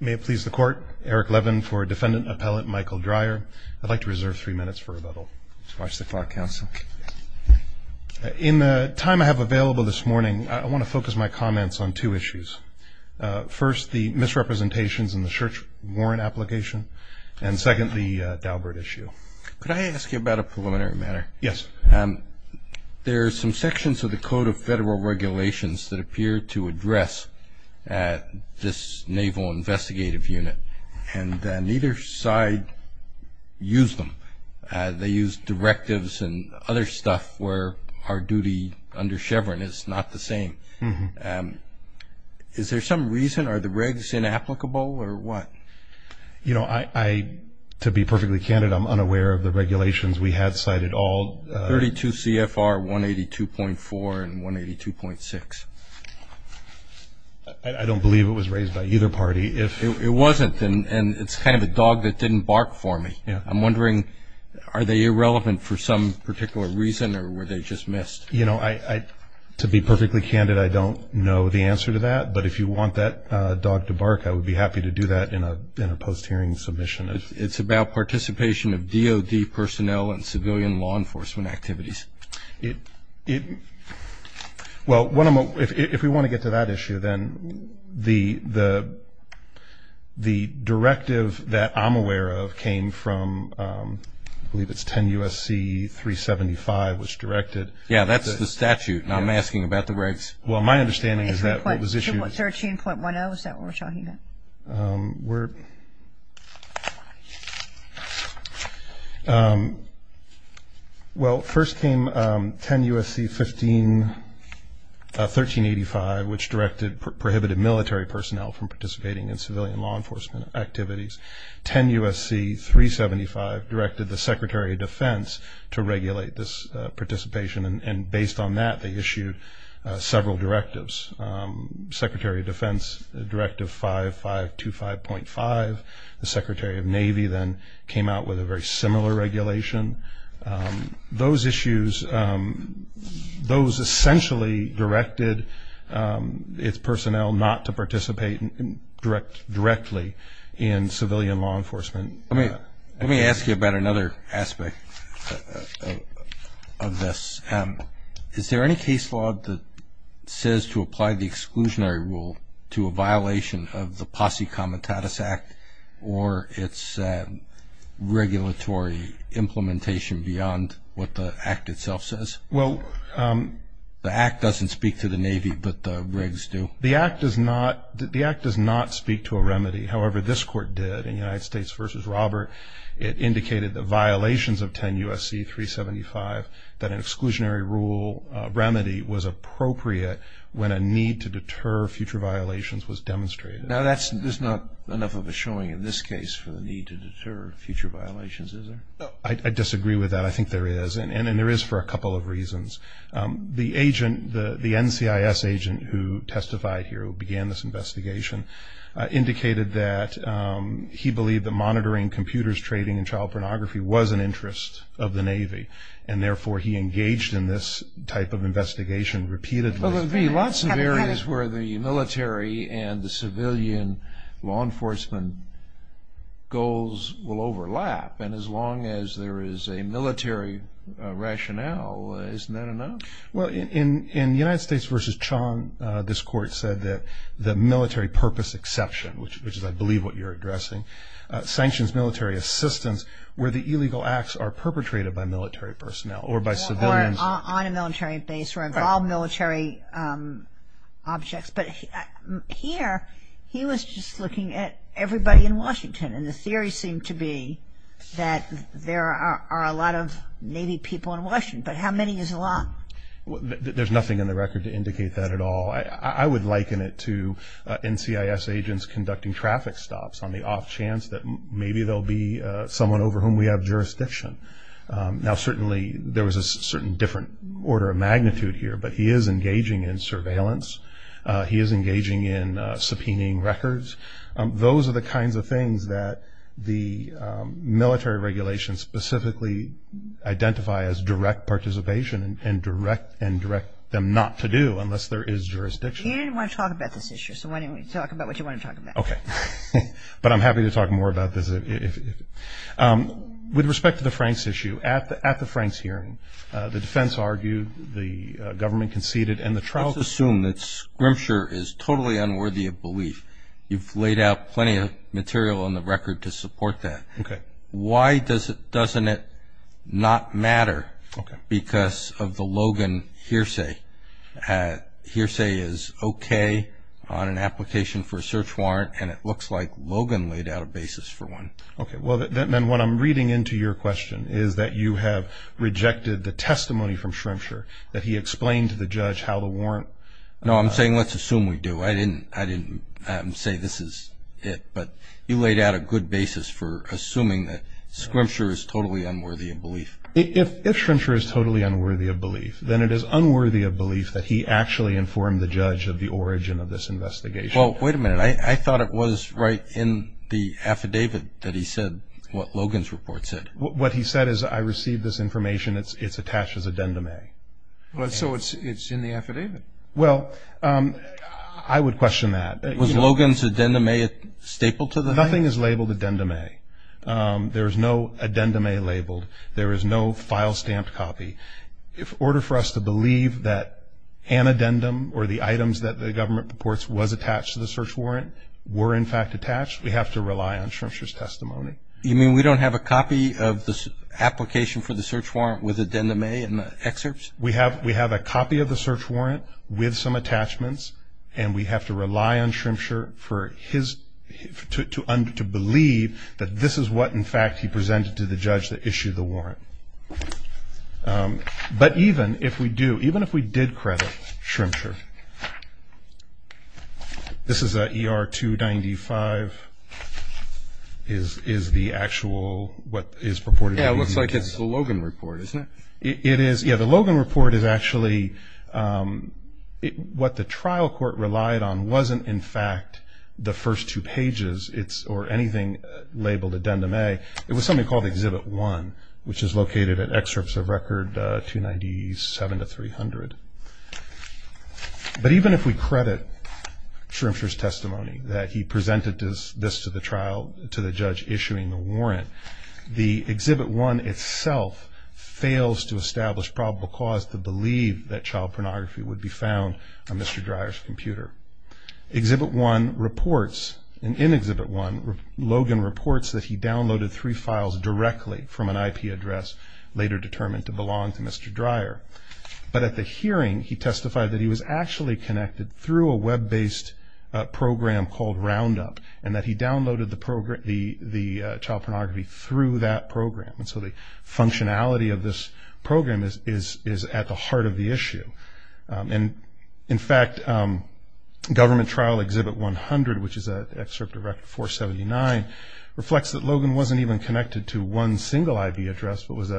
May it please the Court, Eric Levin for Defendant Appellant Michael Dreyer. I'd like to reserve three minutes for rebuttal. Watch the clock, Counsel. In the time I have available this morning, I want to focus my comments on two issues. First, the misrepresentations in the Church warrant application, and second, the Daubert issue. Could I ask you about a preliminary matter? Yes. There are some sections of the Code of Federal Regulations that appear to address this Naval Investigative Unit, and neither side used them. They used directives and other stuff where our duty under Chevron is not the same. Is there some reason? Are the regs inapplicable or what? You know, to be perfectly candid, I'm unaware of the regulations we had cited. 32 CFR 182.4 and 182.6. I don't believe it was raised by either party. It wasn't, and it's kind of a dog that didn't bark for me. I'm wondering, are they irrelevant for some particular reason or were they just missed? You know, to be perfectly candid, I don't know the answer to that, but if you want that dog to bark, I would be happy to do that in a post-hearing submission. It's about participation of DOD personnel in civilian law enforcement activities. Well, if we want to get to that issue, then the directive that I'm aware of came from, I believe it's 10 U.S.C. 375, which directed. Yeah, that's the statute, and I'm asking about the regs. Well, my understanding is that what was issued. 13.10, is that what we're talking about? Well, first came 10 U.S.C. 1385, which prohibited military personnel from participating in civilian law enforcement activities. 10 U.S.C. 375 directed the Secretary of Defense to regulate this participation, and based on that they issued several directives. Secretary of Defense, Directive 5525.5. The Secretary of Navy then came out with a very similar regulation. Those issues, those essentially directed its personnel not to participate directly in civilian law enforcement. Let me ask you about another aspect of this. Is there any case law that says to apply the exclusionary rule to a violation of the Posse Comitatus Act or its regulatory implementation beyond what the Act itself says? The Act doesn't speak to the Navy, but the regs do. The Act does not speak to a remedy. However, this Court did in United States v. Robert. It indicated the violations of 10 U.S.C. 375, that an exclusionary rule remedy was appropriate when a need to deter future violations was demonstrated. Now, there's not enough of a showing in this case for the need to deter future violations, is there? I disagree with that. I think there is, and there is for a couple of reasons. The agent, the NCIS agent who testified here, who began this investigation, indicated that he believed that monitoring computers, trading, and child pornography was an interest of the Navy, and therefore he engaged in this type of investigation repeatedly. Well, there would be lots of areas where the military and the civilian law enforcement goals will overlap, and as long as there is a military rationale, isn't that enough? Well, in United States v. Chong, this Court said that the military purpose exception, which is I believe what you're addressing, sanctions military assistance where the illegal acts are perpetrated by military personnel or by civilians. Or on a military base or involved military objects. But here, he was just looking at everybody in Washington, and the theory seemed to be that there are a lot of Navy people in Washington, but how many is a lot? There's nothing in the record to indicate that at all. I would liken it to NCIS agents conducting traffic stops on the off chance that maybe there will be someone over whom we have jurisdiction. Now, certainly there was a certain different order of magnitude here, but he is engaging in surveillance. He is engaging in subpoenaing records. Those are the kinds of things that the military regulations specifically identify as direct participation and direct them not to do unless there is jurisdiction. You didn't want to talk about this issue, so why don't we talk about what you want to talk about? Okay. But I'm happy to talk more about this. With respect to the Franks issue, at the Franks hearing, the defense argued, the government conceded, Let's assume that Scrimpture is totally unworthy of belief. You've laid out plenty of material on the record to support that. Okay. Why doesn't it not matter because of the Logan hearsay? Hearsay is okay on an application for a search warrant, and it looks like Logan laid out a basis for one. Okay. Then what I'm reading into your question is that you have rejected the testimony from Scrimpture that he explained to the judge how to warrant. No, I'm saying let's assume we do. I didn't say this is it, but you laid out a good basis for assuming that Scrimpture is totally unworthy of belief. If Scrimpture is totally unworthy of belief, then it is unworthy of belief that he actually informed the judge of the origin of this investigation. Well, wait a minute. I thought it was right in the affidavit that he said what Logan's report said. What he said is I received this information. It's attached as addendum A. So it's in the affidavit. Well, I would question that. Was Logan's addendum A a staple to the hearing? Nothing is labeled addendum A. There is no addendum A labeled. There is no file stamped copy. In order for us to believe that an addendum or the items that the government reports was attached to the search warrant were in fact attached, we have to rely on Scrimpture's testimony. You mean we don't have a copy of the application for the search warrant with addendum A in the excerpts? We have a copy of the search warrant with some attachments, and we have to rely on Scrimpture to believe that this is what, in fact, he presented to the judge that issued the warrant. But even if we do, even if we did credit Scrimpture, this is ER 295, is the actual what is reported. Yeah, it looks like it's the Logan report, isn't it? It is. Yeah, the Logan report is actually what the trial court relied on wasn't, in fact, the first two pages or anything labeled addendum A. It was something called Exhibit 1, which is located at excerpts of Record 297 to 300. But even if we credit Scrimpture's testimony that he presented this to the trial, to the judge issuing the warrant, the Exhibit 1 itself fails to establish probable cause to believe that child pornography would be found on Mr. Dreyer's computer. Exhibit 1 reports, and in Exhibit 1, Logan reports that he downloaded three files directly from an IP address, later determined to belong to Mr. Dreyer. But at the hearing, he testified that he was actually connected through a web-based program called Roundup, and that he downloaded the child pornography through that program. And so the functionality of this program is at the heart of the issue. And, in fact, Government Trial Exhibit 100, which is an excerpt of Record 479, reflects that Logan wasn't even connected to one single IP address, but was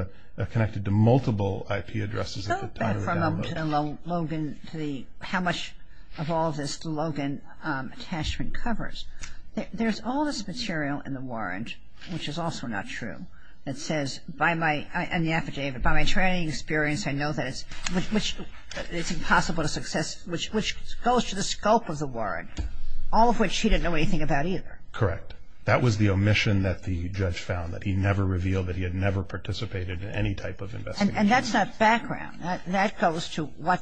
connected to multiple IP addresses at the time of the download. So, from Logan to the how much of all this Logan attachment covers, there's all this material in the warrant, which is also not true, that says, by my, in the affidavit, by my training experience, I know that it's impossible to success, which goes to the scope of the warrant, all of which he didn't know anything about either. Correct. That was the omission that the judge found, that he never revealed, that he had never participated in any type of investigation. And that's not background. That goes to what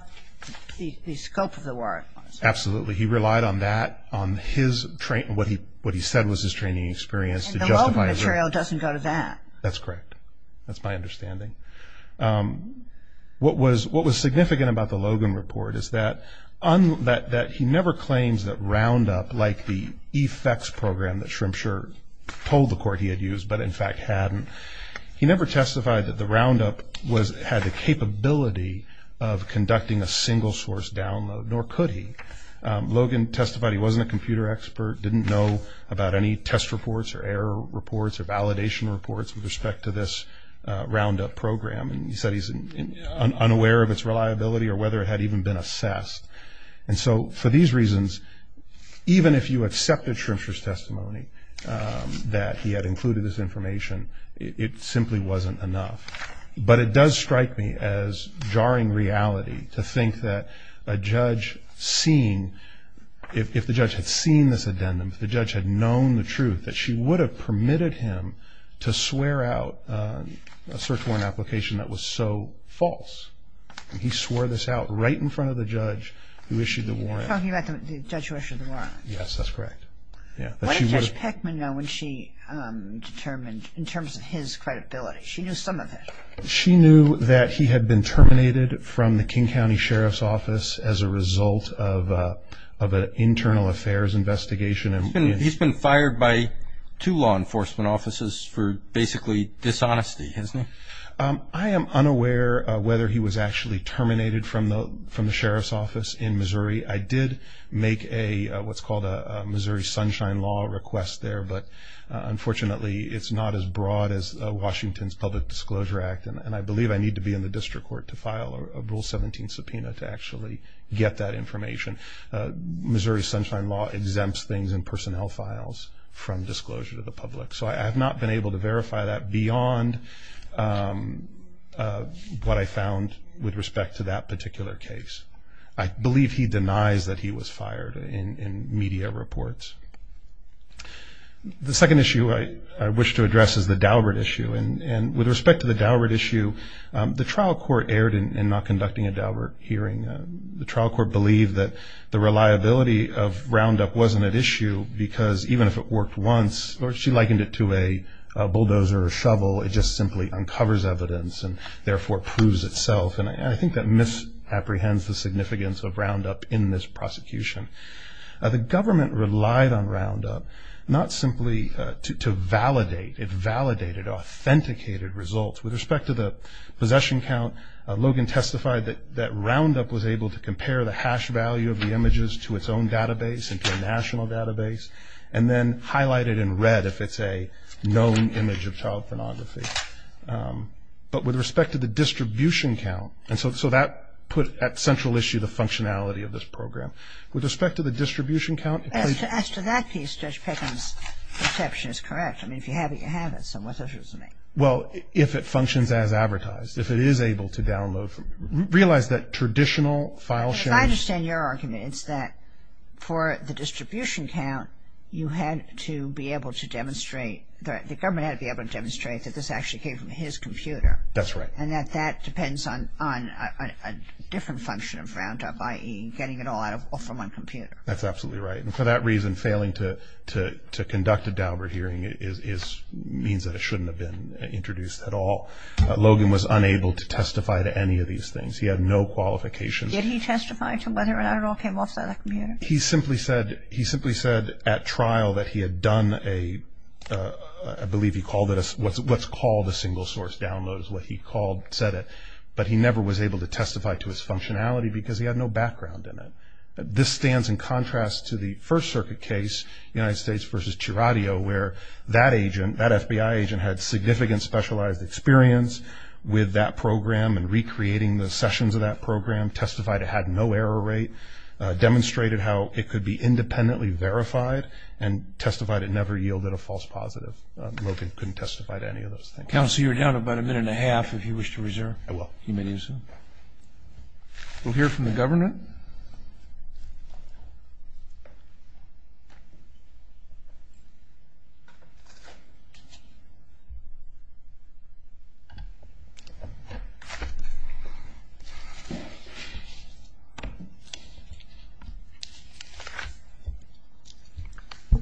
the scope of the warrant was. Absolutely. He relied on that, on his, what he said was his training experience. And the Logan material doesn't go to that. That's correct. That's my understanding. What was significant about the Logan report is that he never claims that Roundup, like the effects program that Shremsher told the court he had used, but in fact hadn't, he never testified that the Roundup had the capability of conducting a single-source download, nor could he. Logan testified he wasn't a computer expert, didn't know about any test reports or error reports or validation reports with respect to this Roundup program. And he said he's unaware of its reliability or whether it had even been assessed. And so for these reasons, even if you accepted Shremsher's testimony, that he had included this information, it simply wasn't enough. But it does strike me as jarring reality to think that a judge seeing, if the judge had seen this addendum, if the judge had known the truth, that she would have permitted him to swear out a search warrant application that was so false. And he swore this out right in front of the judge who issued the warrant. You're talking about the judge who issued the warrant. Yes, that's correct. What did Judge Peckman know when she determined, in terms of his credibility? She knew some of it. She knew that he had been terminated from the King County Sheriff's Office as a result of an internal affairs investigation. He's been fired by two law enforcement offices for basically dishonesty, isn't he? I am unaware whether he was actually terminated from the Sheriff's Office in Missouri. I did make what's called a Missouri Sunshine Law request there, but unfortunately it's not as broad as Washington's Public Disclosure Act, and I believe I need to be in the district court to file a Rule 17 subpoena to actually get that information. Missouri Sunshine Law exempts things in personnel files from disclosure to the public. So I have not been able to verify that beyond what I found with respect to that particular case. I believe he denies that he was fired in media reports. The second issue I wish to address is the Daubert issue. And with respect to the Daubert issue, the trial court erred in not conducting a Daubert hearing. The trial court believed that the reliability of Roundup wasn't at issue because even if it worked once or she likened it to a bulldozer or a shovel, it just simply uncovers evidence and therefore proves itself. And I think that misapprehends the significance of Roundup in this prosecution. The government relied on Roundup not simply to validate. It validated authenticated results. With respect to the possession count, Logan testified that Roundup was able to compare the hash value of the images to its own database, into a national database, and then highlight it in red if it's a known image of child pornography. But with respect to the distribution count, and so that put at central issue the functionality of this program. With respect to the distribution count. As to that case, Judge Pickens' perception is correct. I mean, if you have it, you have it. So what's the issue with me? Well, if it functions as advertised. If it is able to download, realize that traditional file sharing. I understand your argument. It's that for the distribution count, you had to be able to demonstrate, the government had to be able to demonstrate that this actually came from his computer. That's right. And that that depends on a different function of Roundup, i.e., getting it all out from one computer. That's absolutely right. And for that reason, failing to conduct a Daubert hearing means that it shouldn't have been introduced at all. Logan was unable to testify to any of these things. He had no qualifications. Did he testify to whether or not it all came off the other computer? He simply said at trial that he had done a, I believe he called it, what's called a single source download is what he called, said it. But he never was able to testify to his functionality because he had no background in it. This stands in contrast to the First Circuit case, United States v. Chiragio, where that agent, that FBI agent, had significant specialized experience with that program and recreating the sessions of that program, testified it had no error rate, demonstrated how it could be independently verified, and testified it never yielded a false positive. Logan couldn't testify to any of those things. Counsel, you're down about a minute and a half, if you wish to reserve. I will. You may do so. We'll hear from the Governor.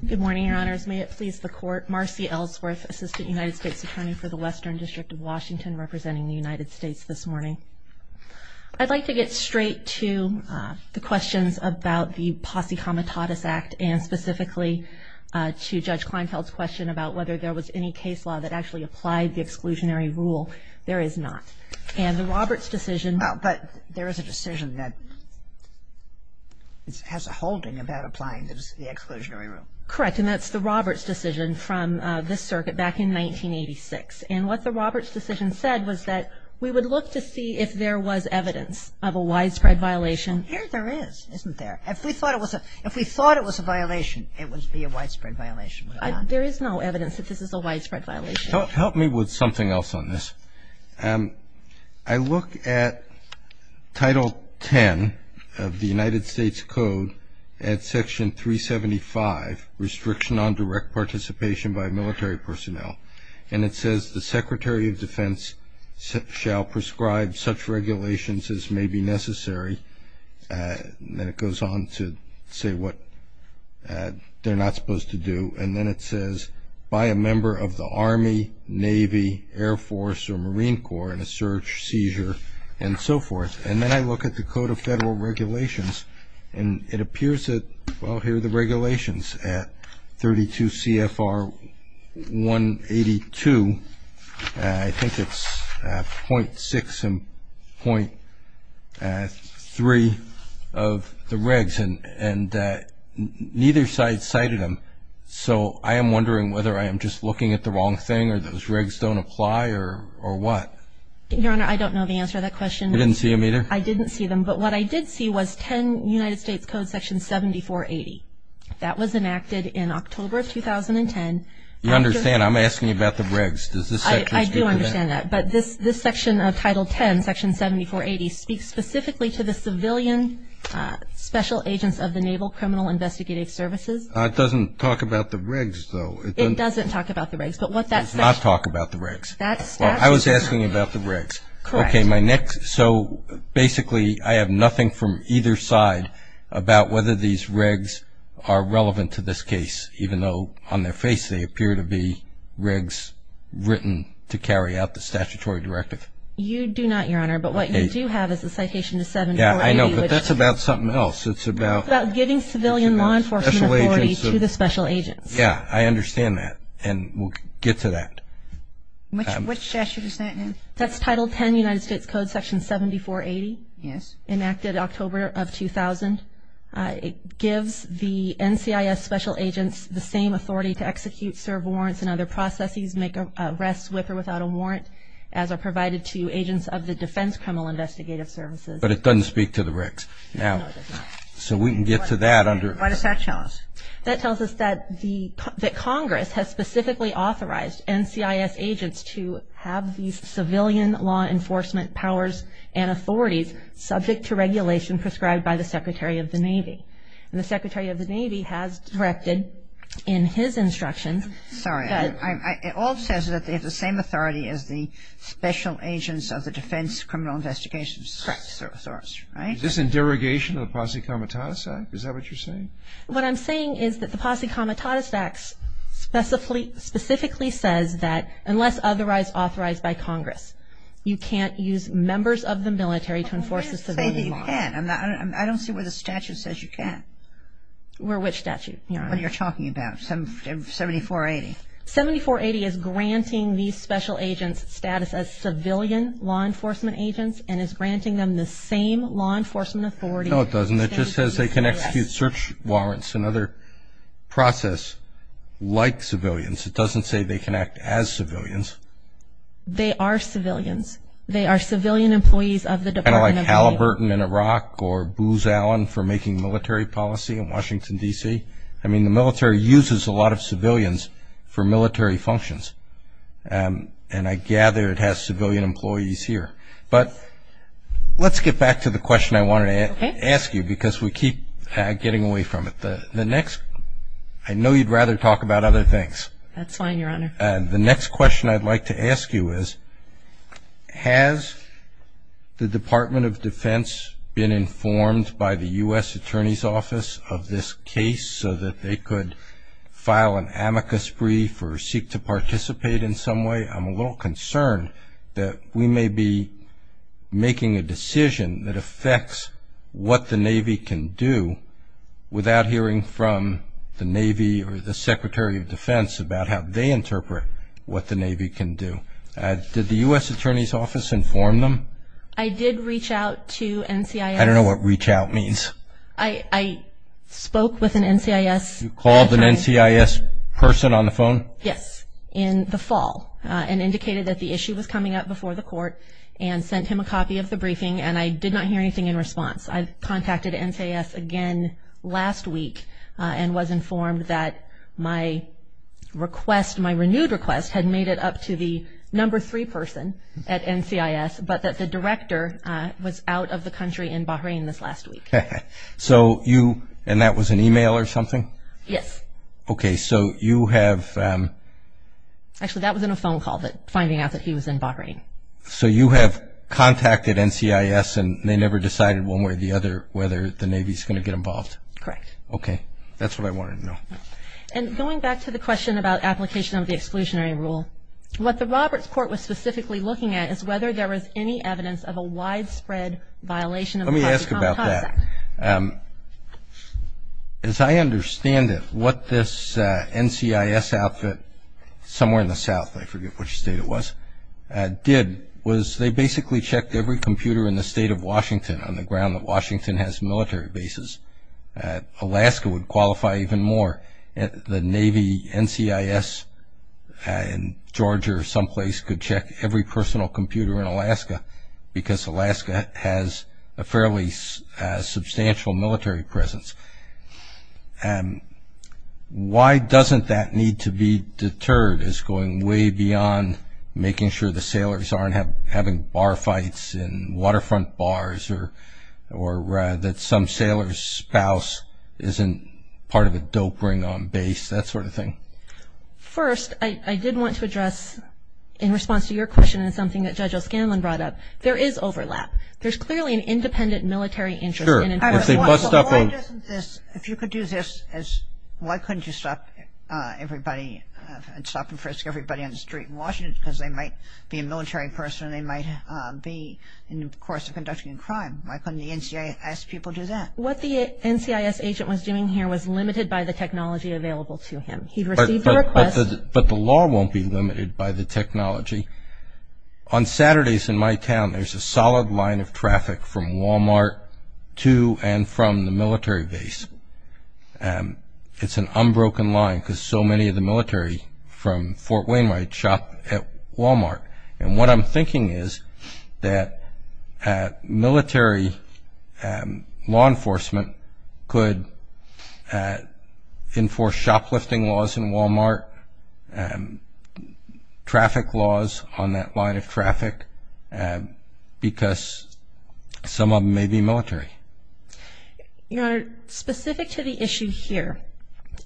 Good morning, Your Honors. May it please the Court, Marcy Ellsworth, Assistant United States Attorney for the Western District of Washington, representing the United States this morning. I'd like to get straight to the questions about the Posse Comitatus Act and specifically to Judge Kleinfeld's question about whether there was any case law that actually applied the exclusionary rule. There is not. And the Roberts decision. But there is a decision that has a holding about applying the exclusionary rule. Correct, and that's the Roberts decision from this circuit back in 1986. And what the Roberts decision said was that we would look to see if there was evidence of a widespread violation. Here there is, isn't there? If we thought it was a violation, it would be a widespread violation. There is no evidence that this is a widespread violation. Help me with something else on this. I look at Title 10 of the United States Code at Section 375, Restriction on Direct Participation by Military Personnel. And it says, The Secretary of Defense shall prescribe such regulations as may be necessary. And then it goes on to say what they're not supposed to do. And then it says, By a member of the Army, Navy, Air Force, or Marine Corps in a search, seizure, and so forth. And then I look at the Code of Federal Regulations, and it appears that, well, here are the regulations at 32 CFR 182. I think it's .6 and .3 of the regs. And neither side cited them. So I am wondering whether I am just looking at the wrong thing, or those regs don't apply, or what? Your Honor, I don't know the answer to that question. You didn't see them either? I didn't see them. But what I did see was 10 United States Code, Section 7480. That was enacted in October of 2010. You understand, I'm asking you about the regs. Does this section speak to that? I do understand that. But this section of Title 10, Section 7480, speaks specifically to the civilian special agents of the Naval Criminal Investigative Services. It doesn't talk about the regs, though. It doesn't talk about the regs. It does not talk about the regs. I was asking about the regs. Correct. Okay, so basically I have nothing from either side about whether these regs are relevant to this case, even though on their face they appear to be regs written to carry out the statutory directive. You do not, Your Honor. Okay. But what you do have is a citation to 7480. Yeah, I know, but that's about something else. It's about giving civilian law enforcement authority to the special agents. Yeah, I understand that. And we'll get to that. What statute is that in? That's Title 10, United States Code, Section 7480. Yes. Enacted October of 2000. It gives the NCIS special agents the same authority to execute, serve warrants, and other processes, make arrests with or without a warrant, as are provided to agents of the Defense Criminal Investigative Services. But it doesn't speak to the regs. No, it does not. So we can get to that. Why does that tell us? That tells us that Congress has specifically authorized NCIS agents to have these civilian law enforcement powers and authorities subject to regulation prescribed by the Secretary of the Navy. And the Secretary of the Navy has directed in his instructions that ---- Sorry. It all says that they have the same authority as the special agents of the Defense Criminal Investigative Services. Correct. Right? Is this in derogation of the Posse Comitatus Act? Is that what you're saying? What I'm saying is that the Posse Comitatus Act specifically says that unless otherwise authorized by Congress, you can't use members of the military to enforce the civilian law. You can't say that you can't. I don't see where the statute says you can't. Where which statute? What you're talking about, 7480. 7480 is granting these special agents status as civilian law enforcement agents and is granting them the same law enforcement authority ---- No, it doesn't. It just says they can execute search warrants and other process like civilians. It doesn't say they can act as civilians. They are civilians. They are civilian employees of the Department of the Navy. Kind of like Halliburton in Iraq or Booz Allen for making military policy in Washington, D.C. I mean, the military uses a lot of civilians for military functions. And I gather it has civilian employees here. But let's get back to the question I wanted to ask you because we keep getting away from it. The next ---- I know you'd rather talk about other things. That's fine, Your Honor. The next question I'd like to ask you is, has the Department of Defense been informed by the U.S. Attorney's Office of this case so that they could file an amicus brief or seek to participate in some way? I'm a little concerned that we may be making a decision that affects what the Navy can do without hearing from the Navy or the Secretary of Defense about how they interpret what the Navy can do. Did the U.S. Attorney's Office inform them? I did reach out to NCIS. I don't know what reach out means. I spoke with an NCIS. You called an NCIS person on the phone? Yes, in the fall and indicated that the issue was coming up before the court and sent him a copy of the briefing, and I did not hear anything in response. I contacted NCIS again last week and was informed that my request, my renewed request, had made it up to the number three person at NCIS, but that the director was out of the country in Bahrain this last week. So you ---- and that was an email or something? Yes. Okay, so you have ---- Actually, that was in a phone call, finding out that he was in Bahrain. So you have contacted NCIS and they never decided one way or the other whether the Navy is going to get involved? Correct. Okay. That's what I wanted to know. And going back to the question about application of the exclusionary rule, what the Roberts Court was specifically looking at is whether there was any evidence of a widespread violation. Let me ask about that. As I understand it, what this NCIS outfit somewhere in the south, I forget which state it was, did was they basically checked every computer in the state of Washington on the ground that Washington has military bases. Alaska would qualify even more. The Navy NCIS in Georgia or someplace could check every personal computer in Alaska because Alaska has a fairly substantial military presence. Why doesn't that need to be deterred as going way beyond making sure the sailors aren't having bar fights in waterfront bars or that some sailor's spouse isn't part of a dope ring on base, that sort of thing? First, I did want to address in response to your question and something that Judge O'Scanlan brought up, there is overlap. There's clearly an independent military interest. If you could do this, why couldn't you stop everybody and stop and frisk everybody on the street in Washington because they might be a military person and they might be in the course of conducting a crime. Why couldn't the NCIS people do that? What the NCIS agent was doing here was limited by the technology available to him. He received a request. But the law won't be limited by the technology. On Saturdays in my town, there's a solid line of traffic from Walmart to and from the military base. It's an unbroken line because so many of the military from Fort Wayne might shop at Walmart. And what I'm thinking is that military law enforcement could enforce shoplifting laws in Walmart, traffic laws on that line of traffic because some of them may be military. Your Honor, specific to the issue here,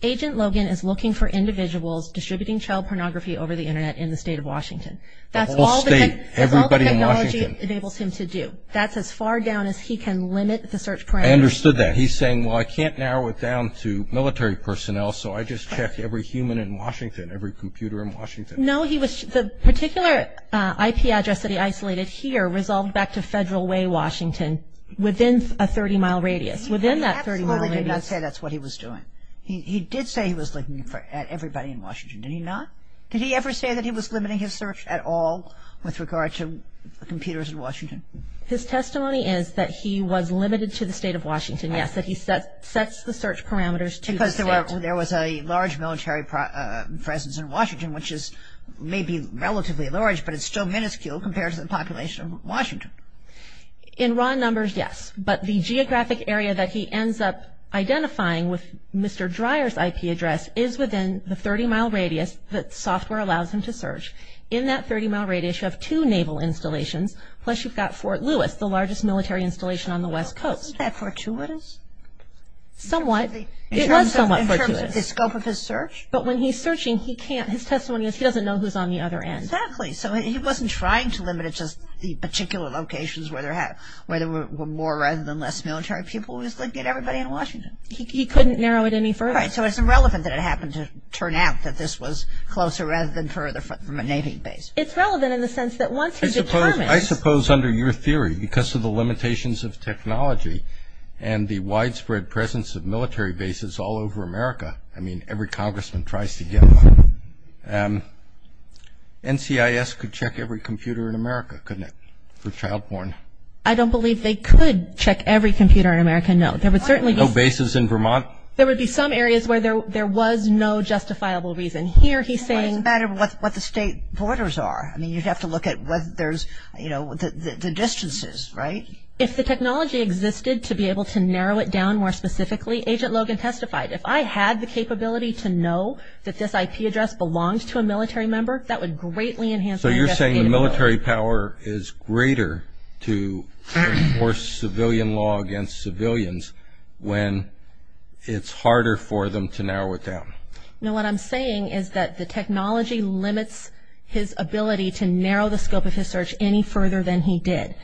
Agent Logan is looking for individuals distributing child pornography over the Internet in the state of Washington. The whole state, everybody in Washington. That's all the technology enables him to do. That's as far down as he can limit the search parameters. I understood that. He's saying, well, I can't narrow it down to military personnel, so I just check every human in Washington, every computer in Washington. No, the particular IP address that he isolated here resolved back to Federal Way, Washington, within a 30-mile radius, within that 30-mile radius. He absolutely did not say that's what he was doing. He did say he was looking at everybody in Washington. Did he not? Did he ever say that he was limiting his search at all with regard to computers in Washington? His testimony is that he was limited to the state of Washington, yes, that he sets the search parameters to the state. But there was a large military presence in Washington, which is maybe relatively large, but it's still minuscule compared to the population of Washington. In raw numbers, yes. But the geographic area that he ends up identifying with Mr. Dreyer's IP address is within the 30-mile radius that software allows him to search. In that 30-mile radius, you have two naval installations, plus you've got Fort Lewis, the largest military installation on the West Coast. Isn't that fortuitous? Somewhat. It was somewhat fortuitous. In terms of the scope of his search? But when he's searching, he can't. His testimony is he doesn't know who's on the other end. Exactly. So he wasn't trying to limit it to the particular locations where there were more rather than less military people. He was looking at everybody in Washington. He couldn't narrow it any further. Right. So it's irrelevant that it happened to turn out that this was closer rather than further from a navy base. It's relevant in the sense that once he determines – I suppose under your theory, because of the limitations of technology and the widespread presence of military bases all over America, I mean, every congressman tries to get one. NCIS could check every computer in America, couldn't it, for child-born? I don't believe they could check every computer in America, no. There would certainly be – No bases in Vermont? There would be some areas where there was no justifiable reason. Here he's saying – Well, it's a matter of what the state borders are. I mean, you'd have to look at whether there's, you know, the distances, right? If the technology existed to be able to narrow it down more specifically, Agent Logan testified, if I had the capability to know that this IP address belongs to a military member, that would greatly enhance my investigative ability. So you're saying the military power is greater to enforce civilian law against civilians when it's harder for them to narrow it down? No, what I'm saying is that the technology limits his ability to narrow the scope of his search any further than he did.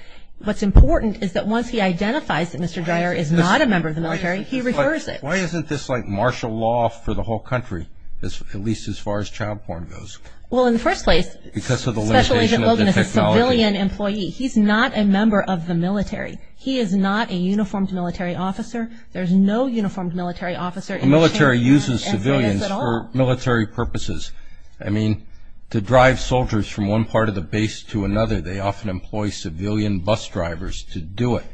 What's important is that once he identifies that Mr. Dreyer is not a member of the military, he refers it. Why isn't this like martial law for the whole country, at least as far as child-born goes? Well, in the first place, Special Agent Logan is a civilian employee. He's not a member of the military. He is not a uniformed military officer. There's no uniformed military officer in the state. The military uses civilians for military purposes. I mean, to drive soldiers from one part of the base to another, they often employ civilian bus drivers to do it,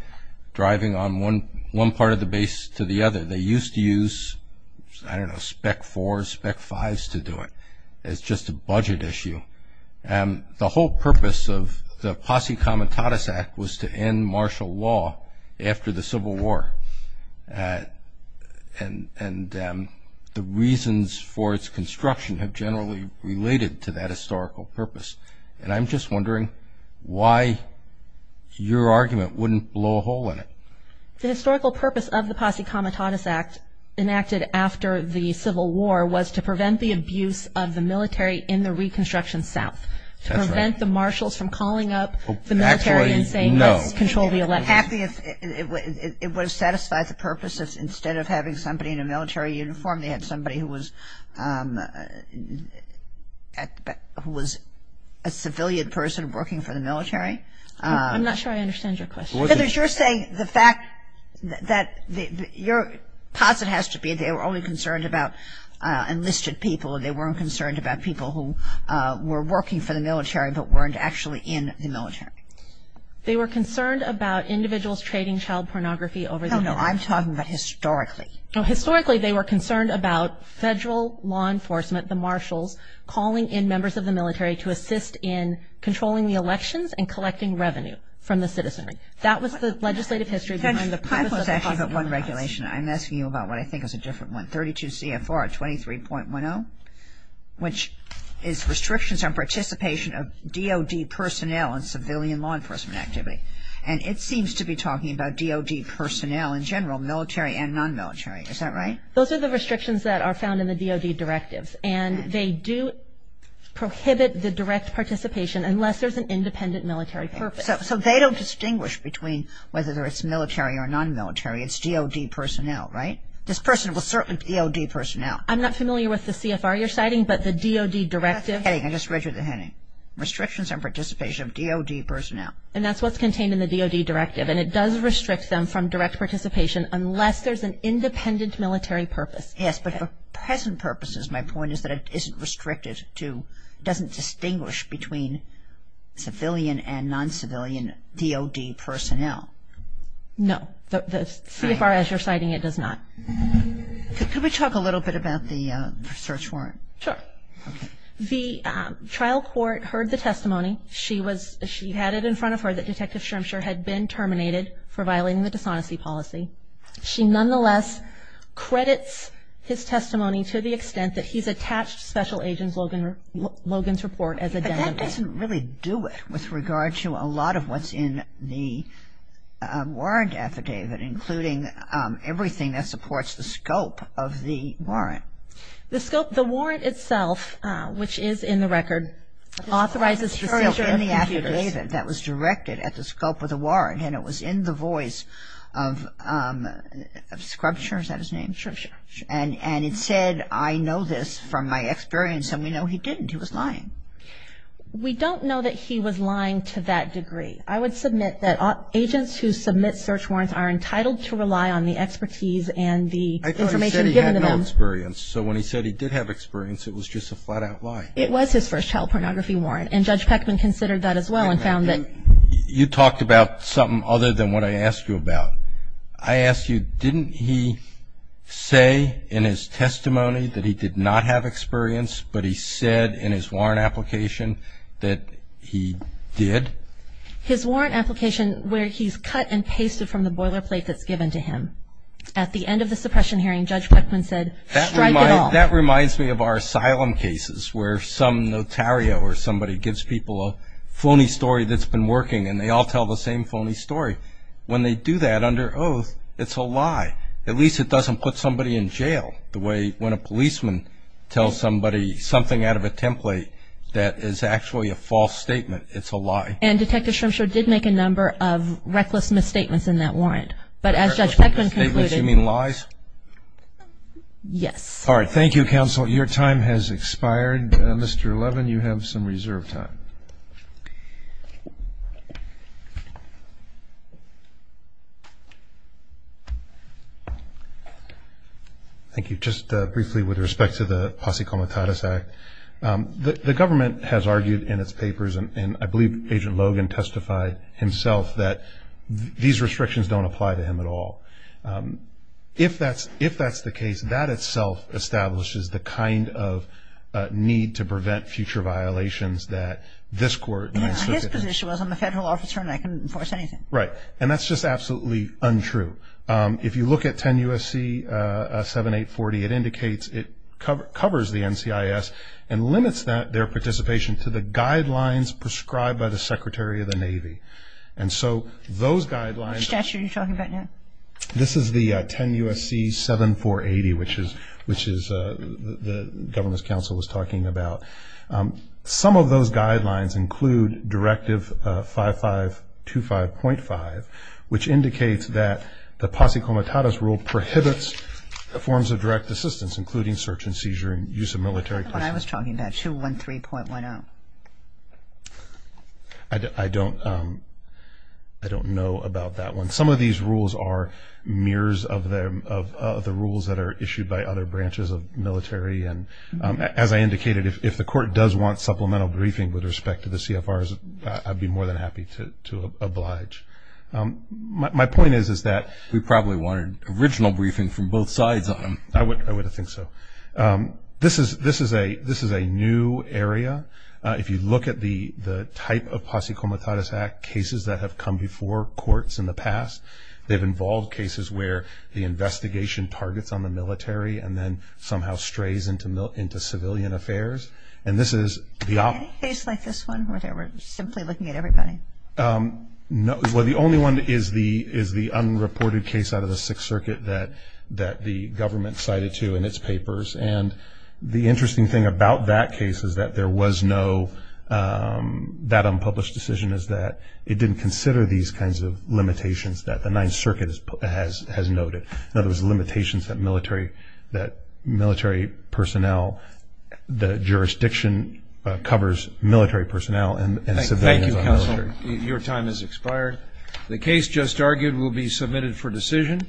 driving on one part of the base to the other. They used to use, I don't know, Spec 4s, Spec 5s to do it. It's just a budget issue. The whole purpose of the Posse Comitatus Act was to end martial law after the Civil War, and the reasons for its construction have generally related to that historical purpose. And I'm just wondering why your argument wouldn't blow a hole in it. The historical purpose of the Posse Comitatus Act, enacted after the Civil War, was to prevent the abuse of the military in the Reconstruction South, to prevent the marshals from calling up the military and saying, let's control the election. It would have satisfied the purpose if instead of having somebody in a military uniform, they had somebody who was a civilian person working for the military. I'm not sure I understand your question. Heather, you're saying the fact that your posse has to be they were only concerned about enlisted people, and they weren't concerned about people who were working for the military but weren't actually in the military. They were concerned about individuals trading child pornography over the military. No, no, I'm talking about historically. Historically, they were concerned about federal law enforcement, the marshals calling in members of the military to assist in controlling the elections and collecting revenue from the citizenry. That was the legislative history behind the purpose of the Posse Comitatus Act. I'm asking you about what I think is a different one, 32 CFR 23.10, which is restrictions on participation of DOD personnel in civilian law enforcement activity. And it seems to be talking about DOD personnel in general, military and non-military. Is that right? Those are the restrictions that are found in the DOD directives, and they do prohibit the direct participation unless there's an independent military purpose. So they don't distinguish between whether it's military or non-military. It's DOD personnel, right? This person was certainly DOD personnel. I'm not familiar with the CFR you're citing, but the DOD directive. I just read you the heading. Restrictions on participation of DOD personnel. And that's what's contained in the DOD directive, and it does restrict them from direct participation unless there's an independent military purpose. Yes, but for present purposes, my point is that it isn't restricted to, doesn't distinguish between civilian and non-civilian DOD personnel. No. The CFR as you're citing, it does not. Could we talk a little bit about the search warrant? Sure. The trial court heard the testimony. She was, she had it in front of her that Detective Shremsher had been terminated for violating the dishonesty policy. She nonetheless credits his testimony to the extent that he's attached Special Agent Logan's report as a demo. But that doesn't really do it with regard to a lot of what's in the warrant affidavit, The scope, the warrant itself, which is in the record, authorizes the search of computers. It was in the affidavit that was directed at the scope of the warrant, and it was in the voice of Shremsher, is that his name? Shremsher. And it said, I know this from my experience, and we know he didn't. He was lying. We don't know that he was lying to that degree. I would submit that agents who submit search warrants are entitled to rely on the expertise and the information given to them. I thought he said he had no experience. So when he said he did have experience, it was just a flat-out lie. It was his first child pornography warrant, and Judge Peckman considered that as well and found that. You talked about something other than what I asked you about. I asked you, didn't he say in his testimony that he did not have experience, but he said in his warrant application that he did? His warrant application where he's cut and pasted from the boilerplate that's given to him. At the end of the suppression hearing, Judge Peckman said, strike it off. That reminds me of our asylum cases where some notario or somebody gives people a phony story that's been working, and they all tell the same phony story. When they do that under oath, it's a lie. At least it doesn't put somebody in jail the way when a policeman tells somebody something out of a template that is actually a false statement. It's a lie. And Detective Shremshaw did make a number of reckless misstatements in that warrant. But as Judge Peckman concluded. Reckless misstatements? You mean lies? Yes. All right. Thank you, Counsel. Your time has expired. Mr. Levin, you have some reserve time. Thank you. Just briefly with respect to the Posse Comitatus Act. The government has argued in its papers, and I believe Agent Logan testified himself, that these restrictions don't apply to him at all. If that's the case, that itself establishes the kind of need to prevent future violations that this court. His position was, I'm a federal officer and I can enforce anything. Right. And that's just absolutely untrue. If you look at 10 U.S.C. 7840, it indicates it covers the NCIS and limits their participation to the guidelines prescribed by the Secretary of the Navy. And so those guidelines. Which statute are you talking about now? This is the 10 U.S.C. 7480, which the government's counsel was talking about. Some of those guidelines include Directive 5525.5, which indicates that the Posse Comitatus rule prohibits the forms of direct assistance, including search and seizure and use of military personnel. The one I was talking about, 213.10. I don't know about that one. Some of these rules are mirrors of the rules that are issued by other branches of military. And as I indicated, if the court does want supplemental briefing with respect to the CFRs, I'd be more than happy to oblige. My point is that we probably wanted original briefing from both sides on them. I would think so. This is a new area. If you look at the type of Posse Comitatus Act cases that have come before courts in the past, they've involved cases where the investigation targets on the military and then somehow strays into civilian affairs. And this is the op- Any case like this one where they were simply looking at everybody? No. Well, the only one is the unreported case out of the Sixth Circuit that the government cited to in its papers. And the interesting thing about that case is that there was no unpublished decision, is that it didn't consider these kinds of limitations that the Ninth Circuit has noted. In other words, limitations that military personnel, the jurisdiction covers military personnel and civilians. Thank you, Counselor. Your time has expired. The case just argued will be submitted for decision.